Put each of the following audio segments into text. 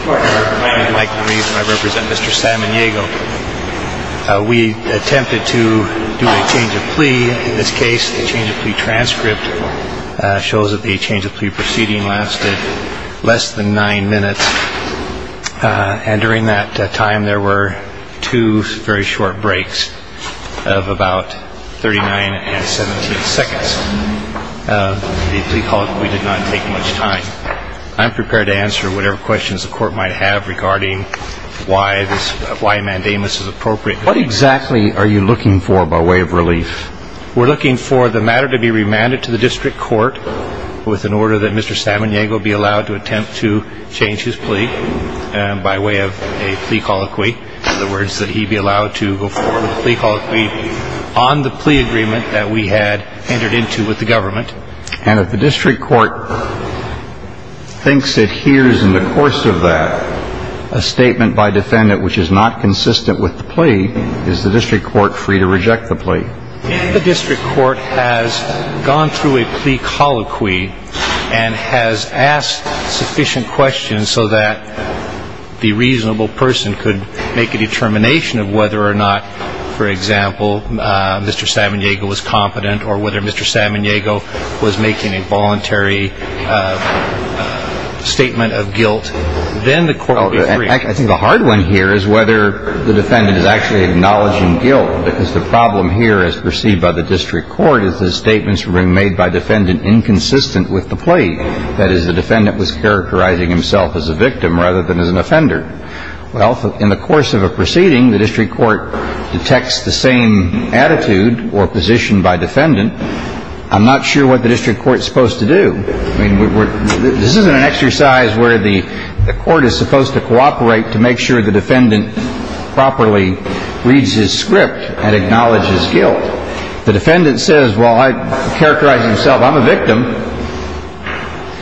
I'd like to introduce myself. I represent Mr. Samaniego. We attempted to do a change of plea, in this case a change of plea transcript. It shows that the change of plea proceeding lasted less than nine minutes. And during that time there were two very short breaks of about 39 and 17 seconds. The plea called that we did not take much time. I'm prepared to answer whatever questions the court might have regarding why a mandamus is appropriate. What exactly are you looking for by way of relief? We're looking for the matter to be remanded to the District Court with an order that Mr. Samaniego be allowed to attempt to change his plea by way of a plea colloquy. In other words, that he be allowed to go forward with a plea colloquy on the plea agreement that we had entered into with the government. And if the District Court thinks it hears in the course of that a statement by defendant which is not consistent with the plea, is the District Court free to reject the plea? The District Court has gone through a plea colloquy and has asked sufficient questions so that the reasonable person could make a determination of whether or not, for example, Mr. Samaniego was competent or whether Mr. Samaniego was making a voluntary statement of guilt. Then the court would be free. I think the hard one here is whether the defendant is actually acknowledging guilt because the problem here as perceived by the District Court is the statements being made by defendant inconsistent with the plea. That is, the defendant was characterizing himself as a victim rather than as an offender. Well, in the course of a proceeding, the District Court detects the same attitude or position by defendant. I'm not sure what the District Court is supposed to do. I mean, this isn't an exercise where the court is supposed to cooperate to make sure the defendant properly reads his script and acknowledges guilt. If the defendant says, well, I characterized himself, I'm a victim,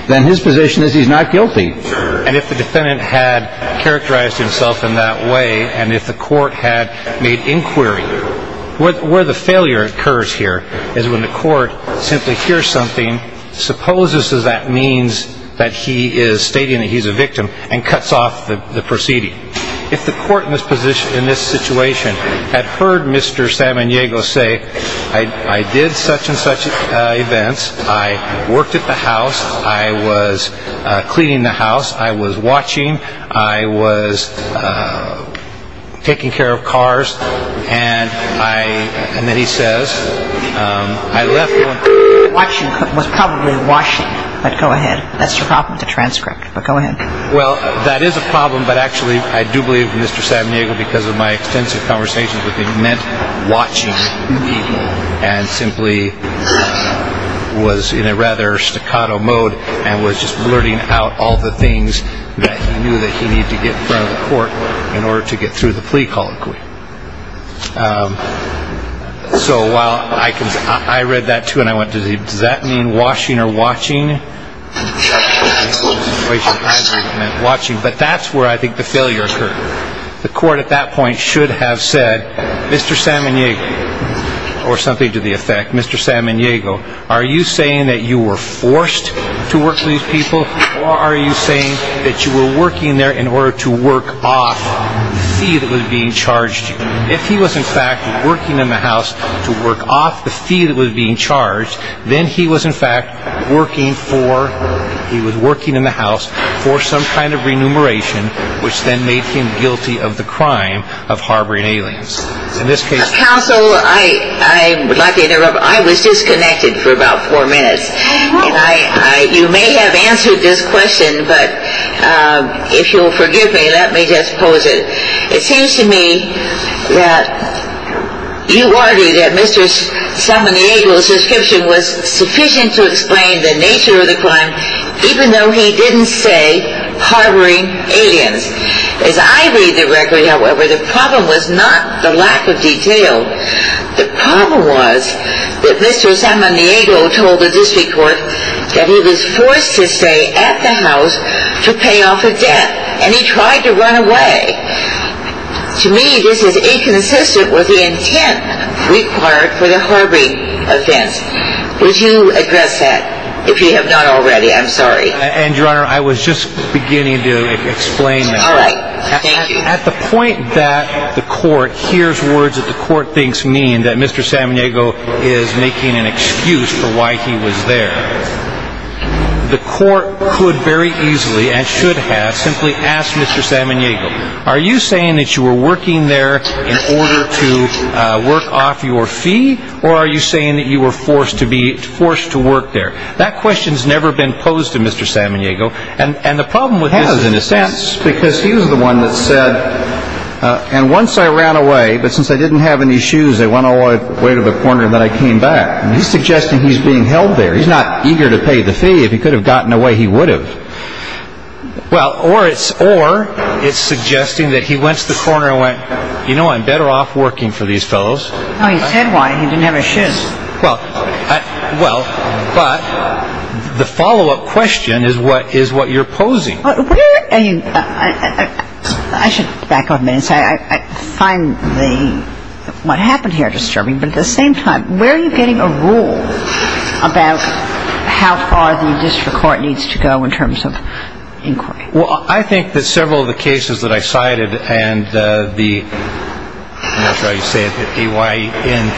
then his position is he's not guilty. And if the defendant had characterized himself in that way and if the court had made inquiry, where the failure occurs here is when the court simply hears something, supposes that that means that he is stating that he's a victim, and cuts off the proceeding. If the court in this situation had heard Mr. Samaniego say, I did such and such events, I worked at the house, I was cleaning the house, I was watching, I was taking care of cars, and then he says, I left. Watching was probably washing, but go ahead. That's your problem to transcript, but go ahead. Well, that is a problem, but actually I do believe Mr. Samaniego, because of my extensive conversations with him, has recommended watching and simply was in a rather staccato mode and was just blurting out all the things that he knew that he needed to get in front of the court in order to get through the plea colloquy. So while I read that, too, and I went, does that mean washing or watching? But that's where I think the failure occurred. The court at that point should have said, Mr. Samaniego, or something to the effect, Mr. Samaniego, are you saying that you were forced to work for these people, or are you saying that you were working there in order to work off the fee that was being charged? If he was in fact working in the house to work off the fee that was being charged, then he was in fact working in the house for some kind of remuneration, which then made him guilty of the crime of harboring aliens. Counsel, I would like to interrupt. I was disconnected for about four minutes. You may have answered this question, but if you'll forgive me, let me just pose it. It seems to me that you argue that Mr. Samaniego's description was sufficient to explain the nature of the crime, even though he didn't say harboring aliens. As I read the record, however, the problem was not the lack of detail. The problem was that Mr. Samaniego told the district court that he was forced to stay at the house to pay off a debt, and he tried to run away. To me, this is inconsistent with the intent required for the harboring offense. Would you address that, if you have not already? I'm sorry. And, Your Honor, I was just beginning to explain that. All right. Thank you. At the point that the court hears words that the court thinks mean that Mr. Samaniego is making an excuse for why he was there, the court could very easily, and should have, simply asked Mr. Samaniego, are you saying that you were working there in order to work off your fee, or are you saying that you were forced to work there? That question has never been posed to Mr. Samaniego, and the problem with this is... It has, in a sense, because he was the one that said, and once I ran away, but since I didn't have any shoes, I went all the way to the corner, and then I came back. He's suggesting he's being held there. He's not eager to pay the fee. If he could have gotten away, he would have. Well, or it's suggesting that he went to the corner and went, you know, I'm better off working for these fellows. No, he said why. He didn't have his shoes. Well, but the follow-up question is what you're posing. I should back off a minute and say I find what happened here disturbing, but at the same time, where are you getting a rule about how far the district court needs to go in terms of inquiry? Well, I think that several of the cases that I cited and the, I don't know if that's how you say it, the AYN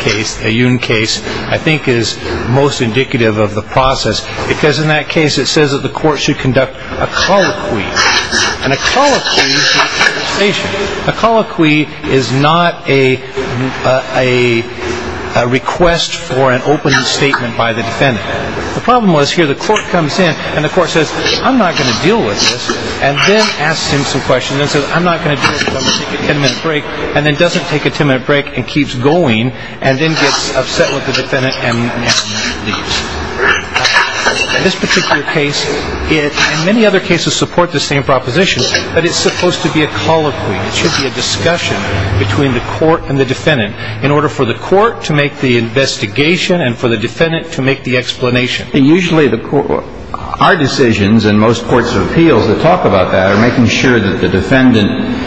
case, the Yoon case, I think is most indicative of the process because in that case it says that the court should conduct a colloquy. And a colloquy is conversation. A colloquy is not a request for an opening statement by the defendant. The problem was here the court comes in and the court says I'm not going to deal with this and then asks him some questions and says I'm not going to do this because I'm going to take a ten-minute break and then doesn't take a ten-minute break and keeps going and then gets upset with the defendant and leaves. In this particular case, and many other cases support the same proposition, but it's supposed to be a colloquy. It should be a discussion between the court and the defendant in order for the court to make the investigation and for the defendant to make the explanation. Usually the court, our decisions and most courts of appeals that talk about that are making sure that the defendant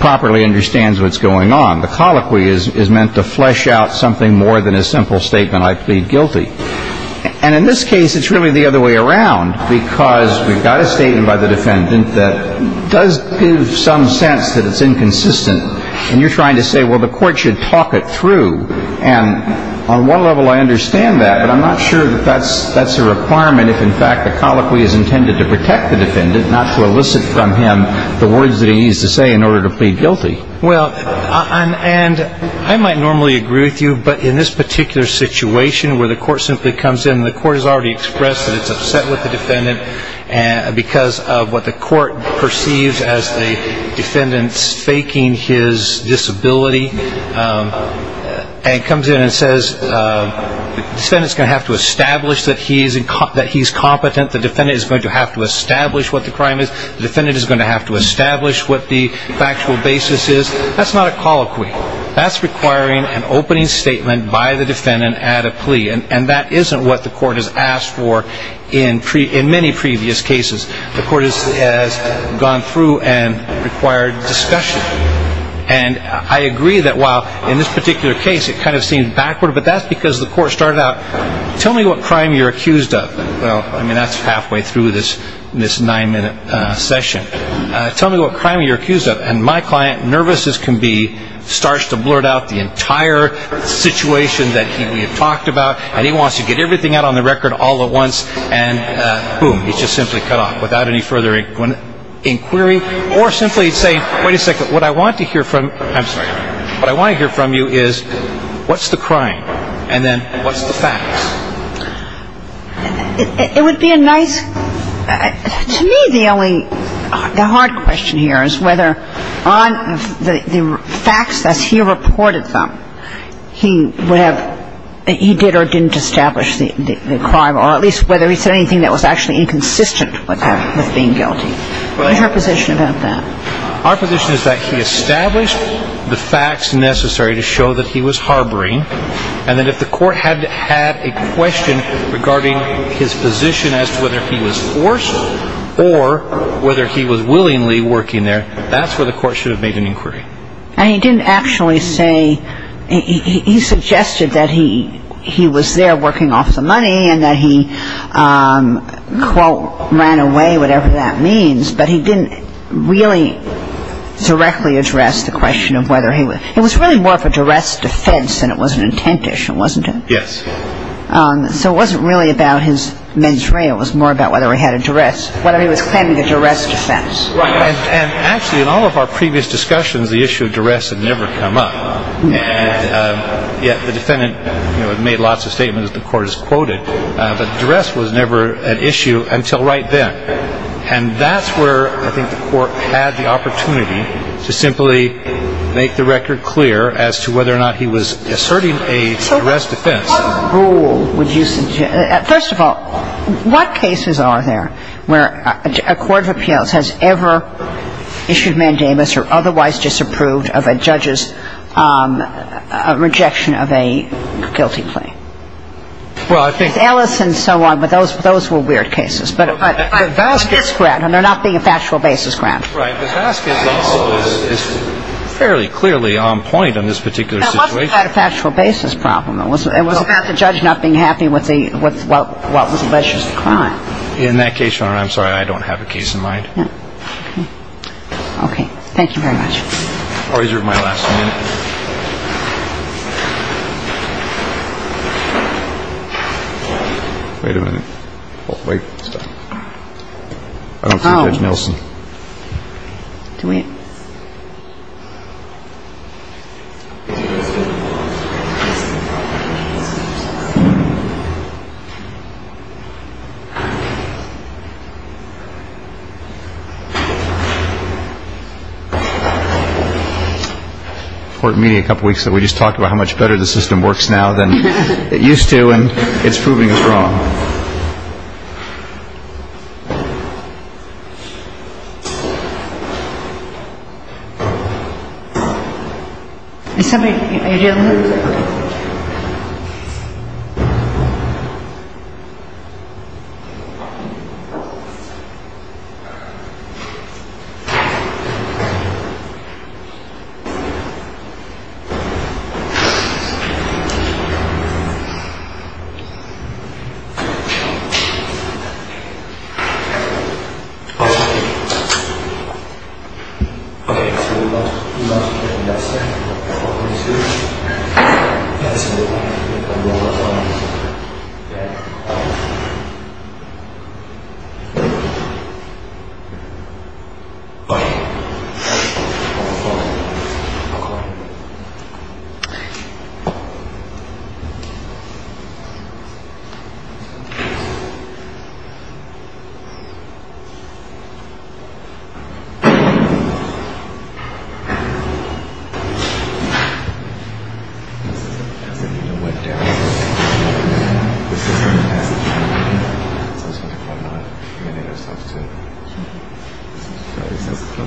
properly understands what's going on. The colloquy is meant to flesh out something more than a simple statement, I plead guilty. And in this case it's really the other way around because we've got a statement by the defendant that does give some sense that it's inconsistent and you're trying to say, well, the court should talk it through. And on one level I understand that, but I'm not sure that that's a requirement if in fact the colloquy is intended to protect the defendant, not to elicit from him the words that he needs to say in order to plead guilty. Well, and I might normally agree with you, but in this particular situation where the court simply comes in and the court has already expressed that it's upset with the defendant because of what the court perceives as the defendant's faking his disability and comes in and says the defendant's going to have to establish that he's competent, the defendant is going to have to establish what the crime is, the defendant is going to have to establish what the factual basis is, that's not a colloquy. That's requiring an opening statement by the defendant at a plea. And that isn't what the court has asked for in many previous cases. The court has gone through and required discussion. And I agree that while in this particular case it kind of seems backward, but that's because the court started out, tell me what crime you're accused of. Well, I mean, that's halfway through this nine-minute session. Tell me what crime you're accused of. And my client, nervous as can be, starts to blurt out the entire situation that we have talked about, and he wants to get everything out on the record all at once, and boom, he's just simply cut off without any further inquiry, or simply say, wait a second, what I want to hear from you is what's the crime, and then what's the facts. It would be a nice, to me the only, the hard question here is whether on the facts as he reported them, he would have, he did or didn't establish the crime, or at least whether he said anything that was actually inconsistent with being guilty. What's your position about that? Our position is that he established the facts necessary to show that he was harboring, and that if the court had a question regarding his position as to whether he was forced or whether he was willingly working there, that's where the court should have made an inquiry. And he didn't actually say, he suggested that he was there working off the money and that he, quote, ran away, whatever that means, but he didn't really directly address the question of whether he was, it was really more of a duress defense than it was an intent issue, wasn't it? Yes. So it wasn't really about his mens rea, it was more about whether he had a duress, whether he was claiming a duress defense. Right, and actually in all of our previous discussions the issue of duress had never come up, and yet the defendant made lots of statements that the court has quoted, but duress was never an issue until right then, and that's where I think the court had the opportunity to simply make the record clear as to whether or not he was asserting a duress defense. So what rule would you suggest, first of all, what cases are there where a court of appeals has ever issued mandamus or otherwise disapproved of a judge's rejection of a guilty plea? Well, I think... Ellis and so on, but those were weird cases. But Vasquez's grant, and there not being a factual basis grant. Right, but Vasquez's also is fairly clearly on point on this particular situation. It wasn't about a factual basis problem, it was about the judge not being happy with what was alleged as the crime. In that case, Your Honor, I'm sorry, I don't have a case in mind. Okay, thank you very much. I'll reserve my last minute. Wait a minute. I don't see Judge Nelson. Do we? We just talked about how much better the system works now than it used to, and it's proving us wrong. Okay. I'll tell you. Okay, so we lost Judge Nelson. We lost Judge Nelson. We lost Judge Nelson. Okay. Okay. Okay. Okay. Okay. We'll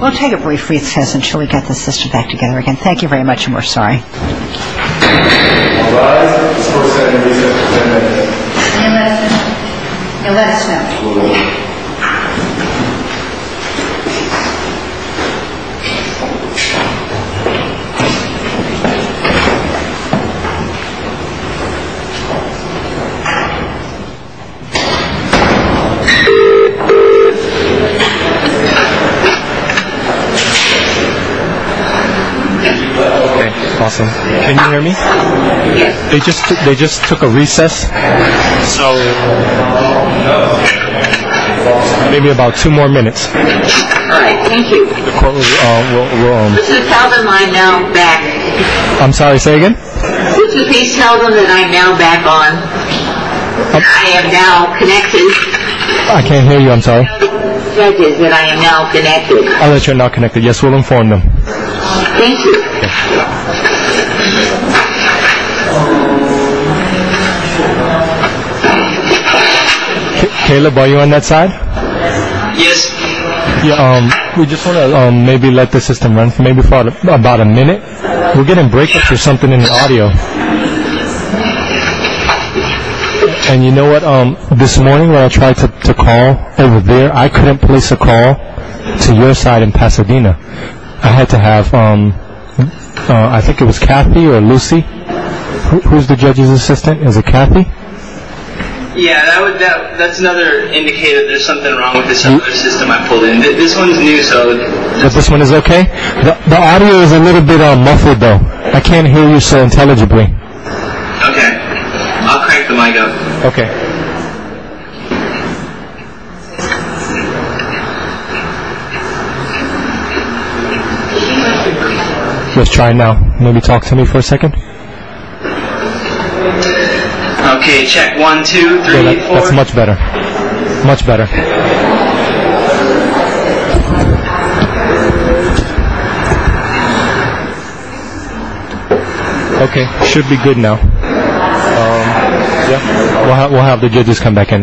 take a brief recess until we get the system back together again. Thank you very much, and we're sorry. All rise. This court is now in recess for 10 minutes. See you, Mr. Nelson. You're last, sir. So do I. Okay. Awesome. Can you hear me? Yes. They just took a recess. So maybe about two more minutes. All right. Thank you. The court is now on. Please tell them I am now back. I'm sorry. Say again. Please tell them that I am now back on. I am now connected. I can't hear you. I'm sorry. I am now connected. I'll let you know you're now connected. Yes, we'll inform them. Thank you. Okay. Caleb, are you on that side? Yes. We just want to maybe let the system run for maybe about a minute. We're getting breakups or something in the audio. And you know what? This morning when I tried to call over there, I couldn't place a call to your side in Pasadena. I had to have, I think it was Kathy or Lucy. Who's the judge's assistant? Is it Kathy? Yeah, that's another indicator there's something wrong with the cellular system I pulled in. This one's new, so. This one is okay? The audio is a little bit muffled, though. I can't hear you so intelligibly. Okay. I'll crank the mic up. Okay. Let's try now. Maybe talk to me for a second. Okay, check one, two, three, four. That's much better. Much better. Okay, should be good now. We'll have the judges come back in.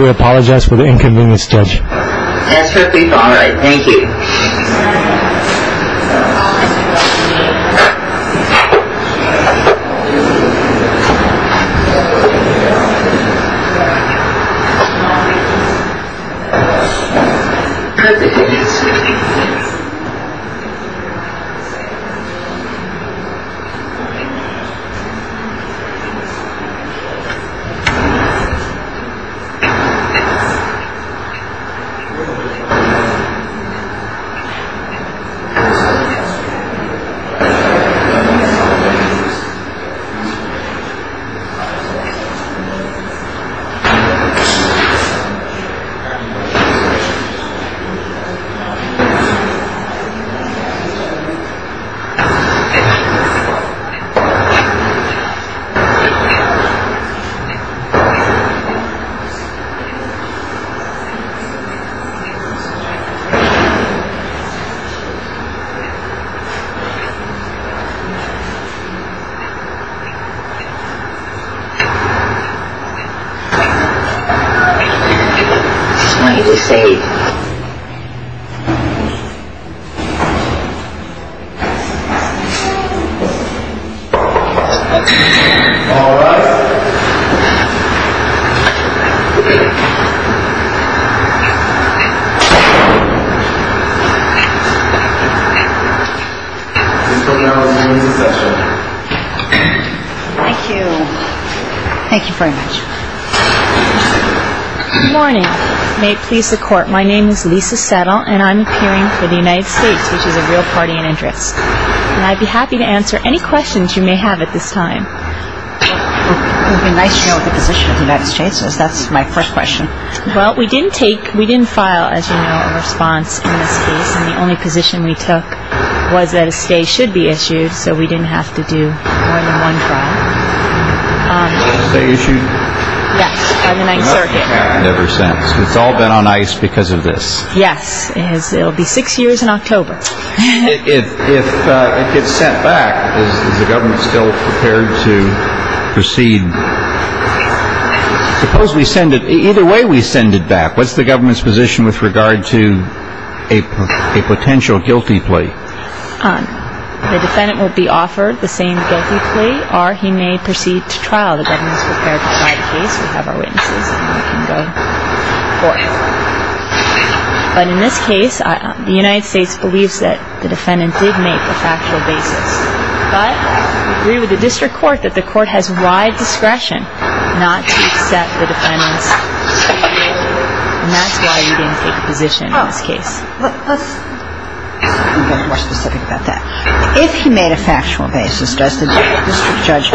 We apologize for the inconvenience, Judge. That's okay. All right. Thank you. All right. Thank you. Thank you. Thank you. She's wanting to see. All right. Thank you very much. Good morning. May it please the court, my name is Lisa Settle and I'm appearing for the United States, which is a real party in interest. And I'd be happy to answer any questions you may have at this time. It would be nice to know the position of the United States. That's my first question. Well, we didn't take, we didn't file, as you know, a response in this case. And the only position we took was that a stay should be issued, so we didn't have to do more than one trial. Stay issued? Yes, on the 9th Circuit. Never since. It's all been on ice because of this. Yes. It'll be six years in October. If it gets sent back, is the government still prepared to proceed? Suppose we send it, either way we send it back, what's the government's position with regard to a potential guilty plea? The defendant will be offered the same guilty plea or he may proceed to trial. The government is prepared to try the case. We have our witnesses and we can go forth. But in this case, the United States believes that the defendant did make a factual basis. But we agree with the district court that the court has wide discretion not to accept the defendant's stay. And that's why we didn't take a position in this case. Let's be a little more specific about that. If he made a factual basis, does the district judge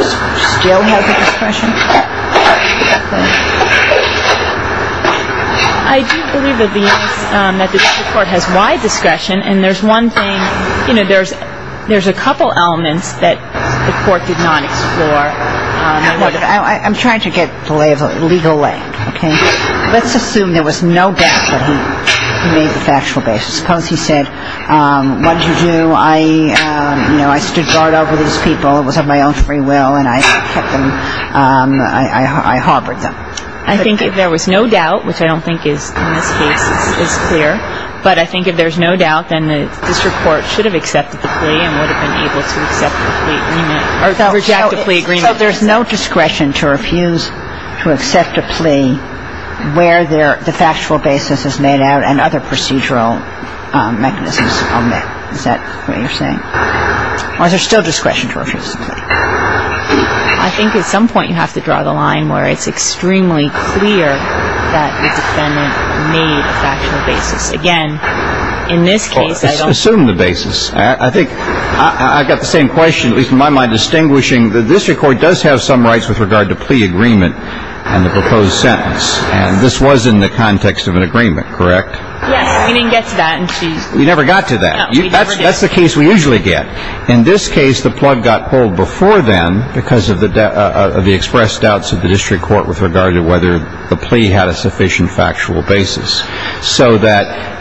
still have the discretion? I do believe that the district court has wide discretion. And there's one thing, you know, there's a couple elements that the court did not explore. I'm trying to get the legal leg. Okay. Let's assume there was no doubt that he made the factual basis. Suppose he said, what did you do? I, you know, I stood guard over these people. It was of my own free will. And I kept them, I harbored them. I think if there was no doubt, which I don't think in this case is clear, but I think if there's no doubt, then the district court should have accepted the plea and would have been able to accept the plea agreement or reject the plea agreement. So there's no discretion to refuse to accept a plea where the factual basis is made out and other procedural mechanisms are met. Is that what you're saying? Or is there still discretion to refuse a plea? I think at some point you have to draw the line where it's extremely clear that the defendant made a factual basis. Again, in this case, I don't Assume the basis. I think I've got the same question, at least in my mind, distinguishing the district court does have some rights with regard to plea agreement and the proposed sentence. And this was in the context of an agreement, correct? Yes. We didn't get to that. We never got to that. No, we never did. That's the case we usually get. In this case, the plug got pulled before then because of the expressed doubts of the district court with regard to whether the plea had a sufficient factual basis so that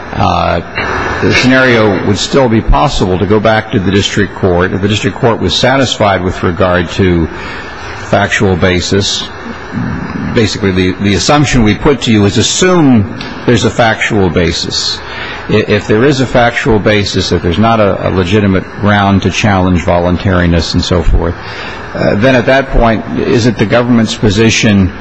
the scenario would still be possible to go back to the district court. If the district court was satisfied with regard to factual basis, basically the assumption we put to you is assume there's a factual basis. If there is a factual basis, if there's not a legitimate ground to challenge voluntariness and so forth, then at that point, is it the government's position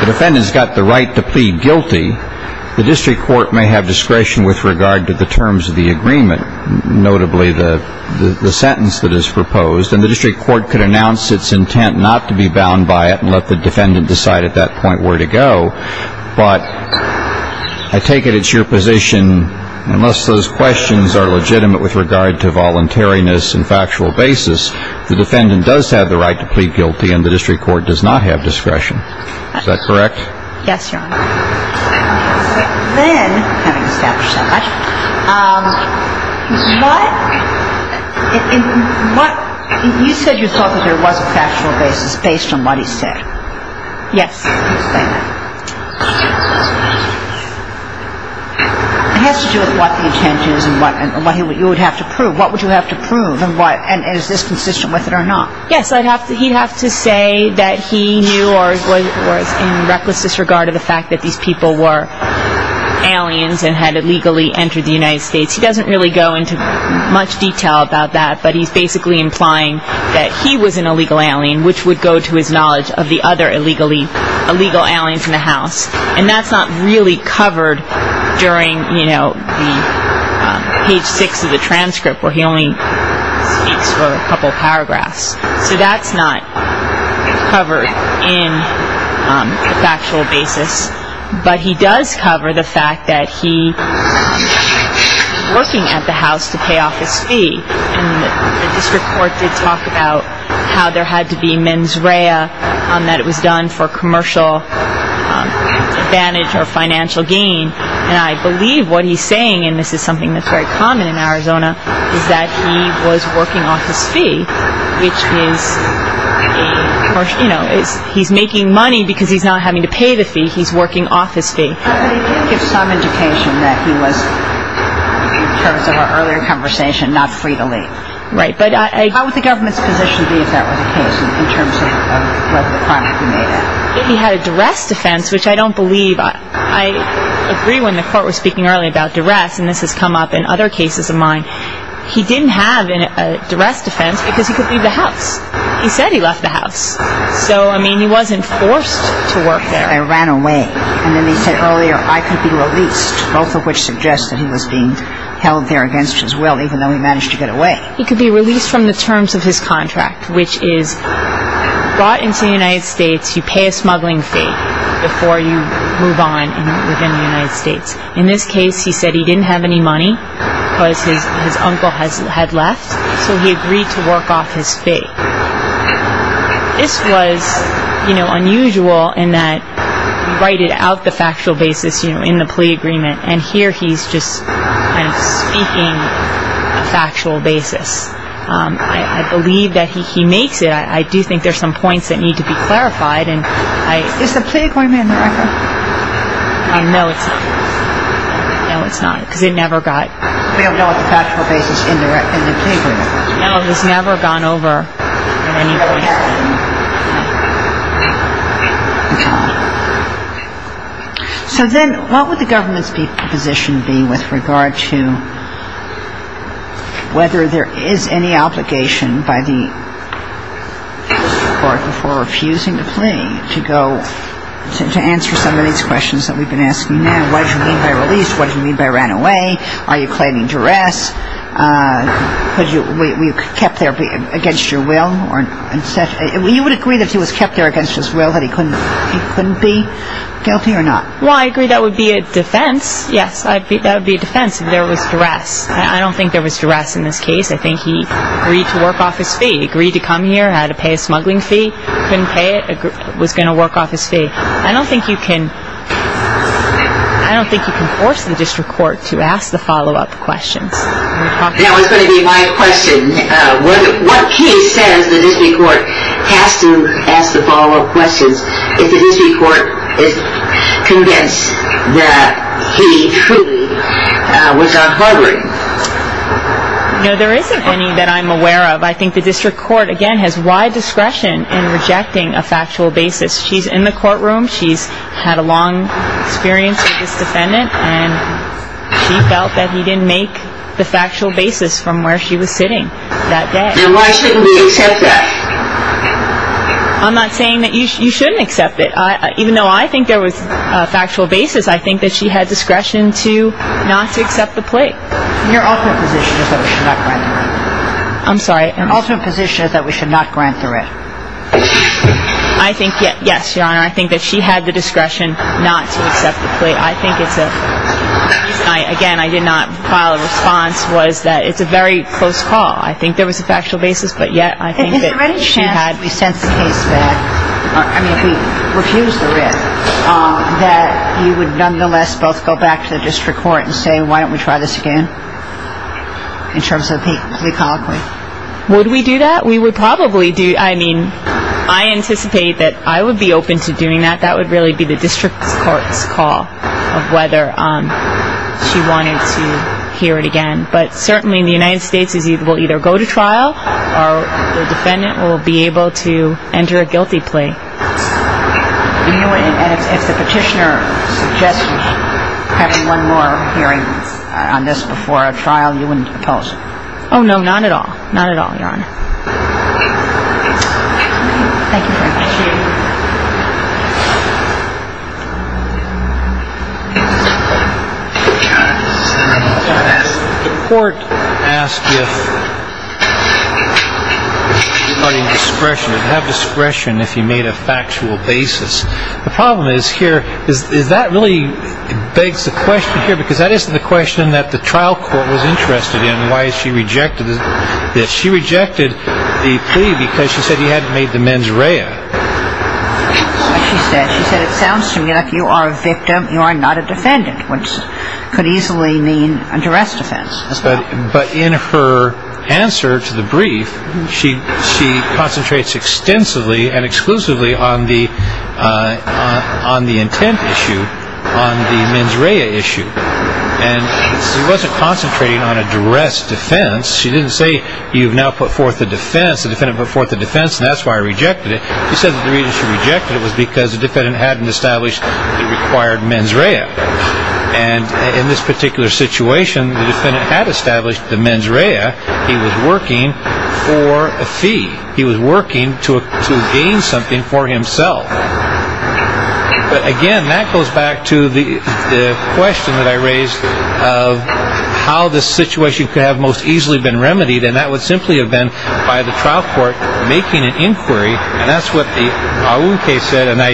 the defendant's got the right to plead guilty, the district court may have discretion with regard to the terms of the agreement, notably the sentence that is proposed, and the district court could announce its intent not to be bound by it and let the defendant decide at that point where to go. But I take it it's your position, unless those questions are legitimate with regard to voluntariness and factual basis, the defendant does have the right to plead guilty and the district court does not have discretion. Is that correct? Yes, Your Honor. Then, having established so much, you said you thought that there was a factual basis based on what he said. Yes. It has to do with what the intent is and what you would have to prove. What would you have to prove and is this consistent with it or not? Yes, he'd have to say that he knew or was in reckless disregard of the fact that these people were aliens and had illegally entered the United States. He doesn't really go into much detail about that, but he's basically implying that he was an illegal alien, which would go to his knowledge of the other illegal aliens in the house, and that's not really covered during page six of the transcript where he only speaks for a couple of paragraphs. So that's not covered in a factual basis, but he does cover the fact that he was working at the house to pay off his fee, and the district court did talk about how there had to be mens rea and that it was done for commercial advantage or financial gain, and I believe what he's saying, and this is something that's very common in Arizona, is that he was working off his fee, which is he's making money because he's not having to pay the fee. He's working off his fee. But he did give some indication that he was, in terms of our earlier conversation, not free to leave. Right. How would the government's position be if that were the case in terms of whether the crime had been made? He had a duress defense, which I don't believe. I agree when the court was speaking earlier about duress, and this has come up in other cases of mine. He didn't have a duress defense because he could leave the house. He said he left the house. So, I mean, he wasn't forced to work there. I ran away. And then they said earlier I could be released, both of which suggested he was being held there against his will, even though he managed to get away. He could be released from the terms of his contract, which is brought into the United States, you pay a smuggling fee before you move on within the United States. In this case, he said he didn't have any money because his uncle had left, so he agreed to work off his fee. This was, you know, unusual in that you write it out, the factual basis, you know, in the plea agreement, and here he's just kind of speaking a factual basis. I believe that he makes it. I do think there's some points that need to be clarified. Is the plea going in the record? No, it's not, because it never got. We don't know what the factual basis is in the plea agreement. No, it has never gone over in any way. Okay. So then what would the government's position be with regard to whether there is any obligation by the court before refusing the plea to go to answer some of these questions that we've been asking now? What do you mean by released? What do you mean by ran away? Are you claiming duress? Were you kept there against your will? You would agree that he was kept there against his will, that he couldn't be guilty or not? Well, I agree that would be a defense. Yes, that would be a defense if there was duress. I don't think there was duress in this case. I think he agreed to work off his fee, agreed to come here, had to pay a smuggling fee, couldn't pay it, was going to work off his fee. I don't think you can force the district court to ask the follow-up questions. That was going to be my question. What case says the district court has to ask the follow-up questions if the district court is convinced that he truly was not harboring? No, there isn't any that I'm aware of. I think the district court, again, has wide discretion in rejecting a factual basis. She's in the courtroom. She's had a long experience with this defendant, and she felt that he didn't make the factual basis from where she was sitting that day. Then why shouldn't we accept that? I'm not saying that you shouldn't accept it. Even though I think there was a factual basis, I think that she had discretion not to accept the plea. Your ultimate position is that we should not grant the writ. I'm sorry? Your ultimate position is that we should not grant the writ. I think, yes, Your Honor, I think that she had the discretion not to accept the plea. I think it's a reason, again, I did not file a response, was that it's a very close call. I think there was a factual basis, but yet I think that she had. If the writ is sent, if we sent the case back, I mean if we refused the writ, that you would nonetheless both go back to the district court and say, why don't we try this again in terms of the plea colloquy? Would we do that? We would probably do, I mean, I anticipate that I would be open to doing that. That would really be the district court's call of whether she wanted to hear it again. But certainly the United States will either go to trial or the defendant will be able to enter a guilty plea. If the petitioner suggested having one more hearing on this before a trial, you wouldn't oppose it? Oh, no, not at all. Not at all, Your Honor. Thank you very much. The court asked if you have discretion, if you made a factual basis. The problem is here, is that really begs the question here, because that isn't the question that the trial court was interested in, and why she rejected this. She rejected the plea because she said he hadn't made the mens rea. She said it sounds to me like you are a victim, you are not a defendant, which could easily mean a duress defense. But in her answer to the brief, she concentrates extensively and exclusively on the intent issue, on the mens rea issue. She wasn't concentrating on a duress defense. She didn't say you've now put forth a defense, the defendant put forth a defense, and that's why I rejected it. She said the reason she rejected it was because the defendant hadn't established the required mens rea. And in this particular situation, the defendant had established the mens rea. He was working for a fee. He was working to gain something for himself. But again, that goes back to the question that I raised of how this situation could have most easily been remedied, and that would simply have been by the trial court making an inquiry, and that's what the Awu case said, and I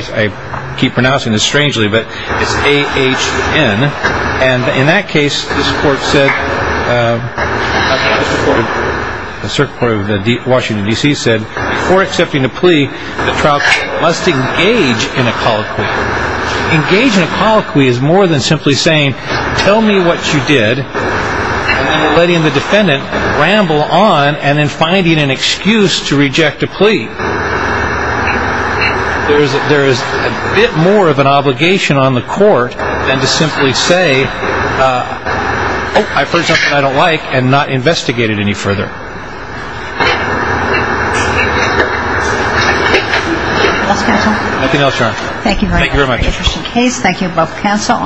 keep pronouncing this strangely, but it's A-H-N, and in that case, this court said, the circuit court of Washington, D.C. said, before accepting a plea, the trial court must engage in a colloquy. Engage in a colloquy is more than simply saying, tell me what you did, and then letting the defendant ramble on and then finding an excuse to reject a plea. There is a bit more of an obligation on the court than to simply say, oh, I've heard something I don't like, and not investigate it any further. Anything else, counsel? Nothing else, Your Honor. Thank you very much. Thank you both, counsel.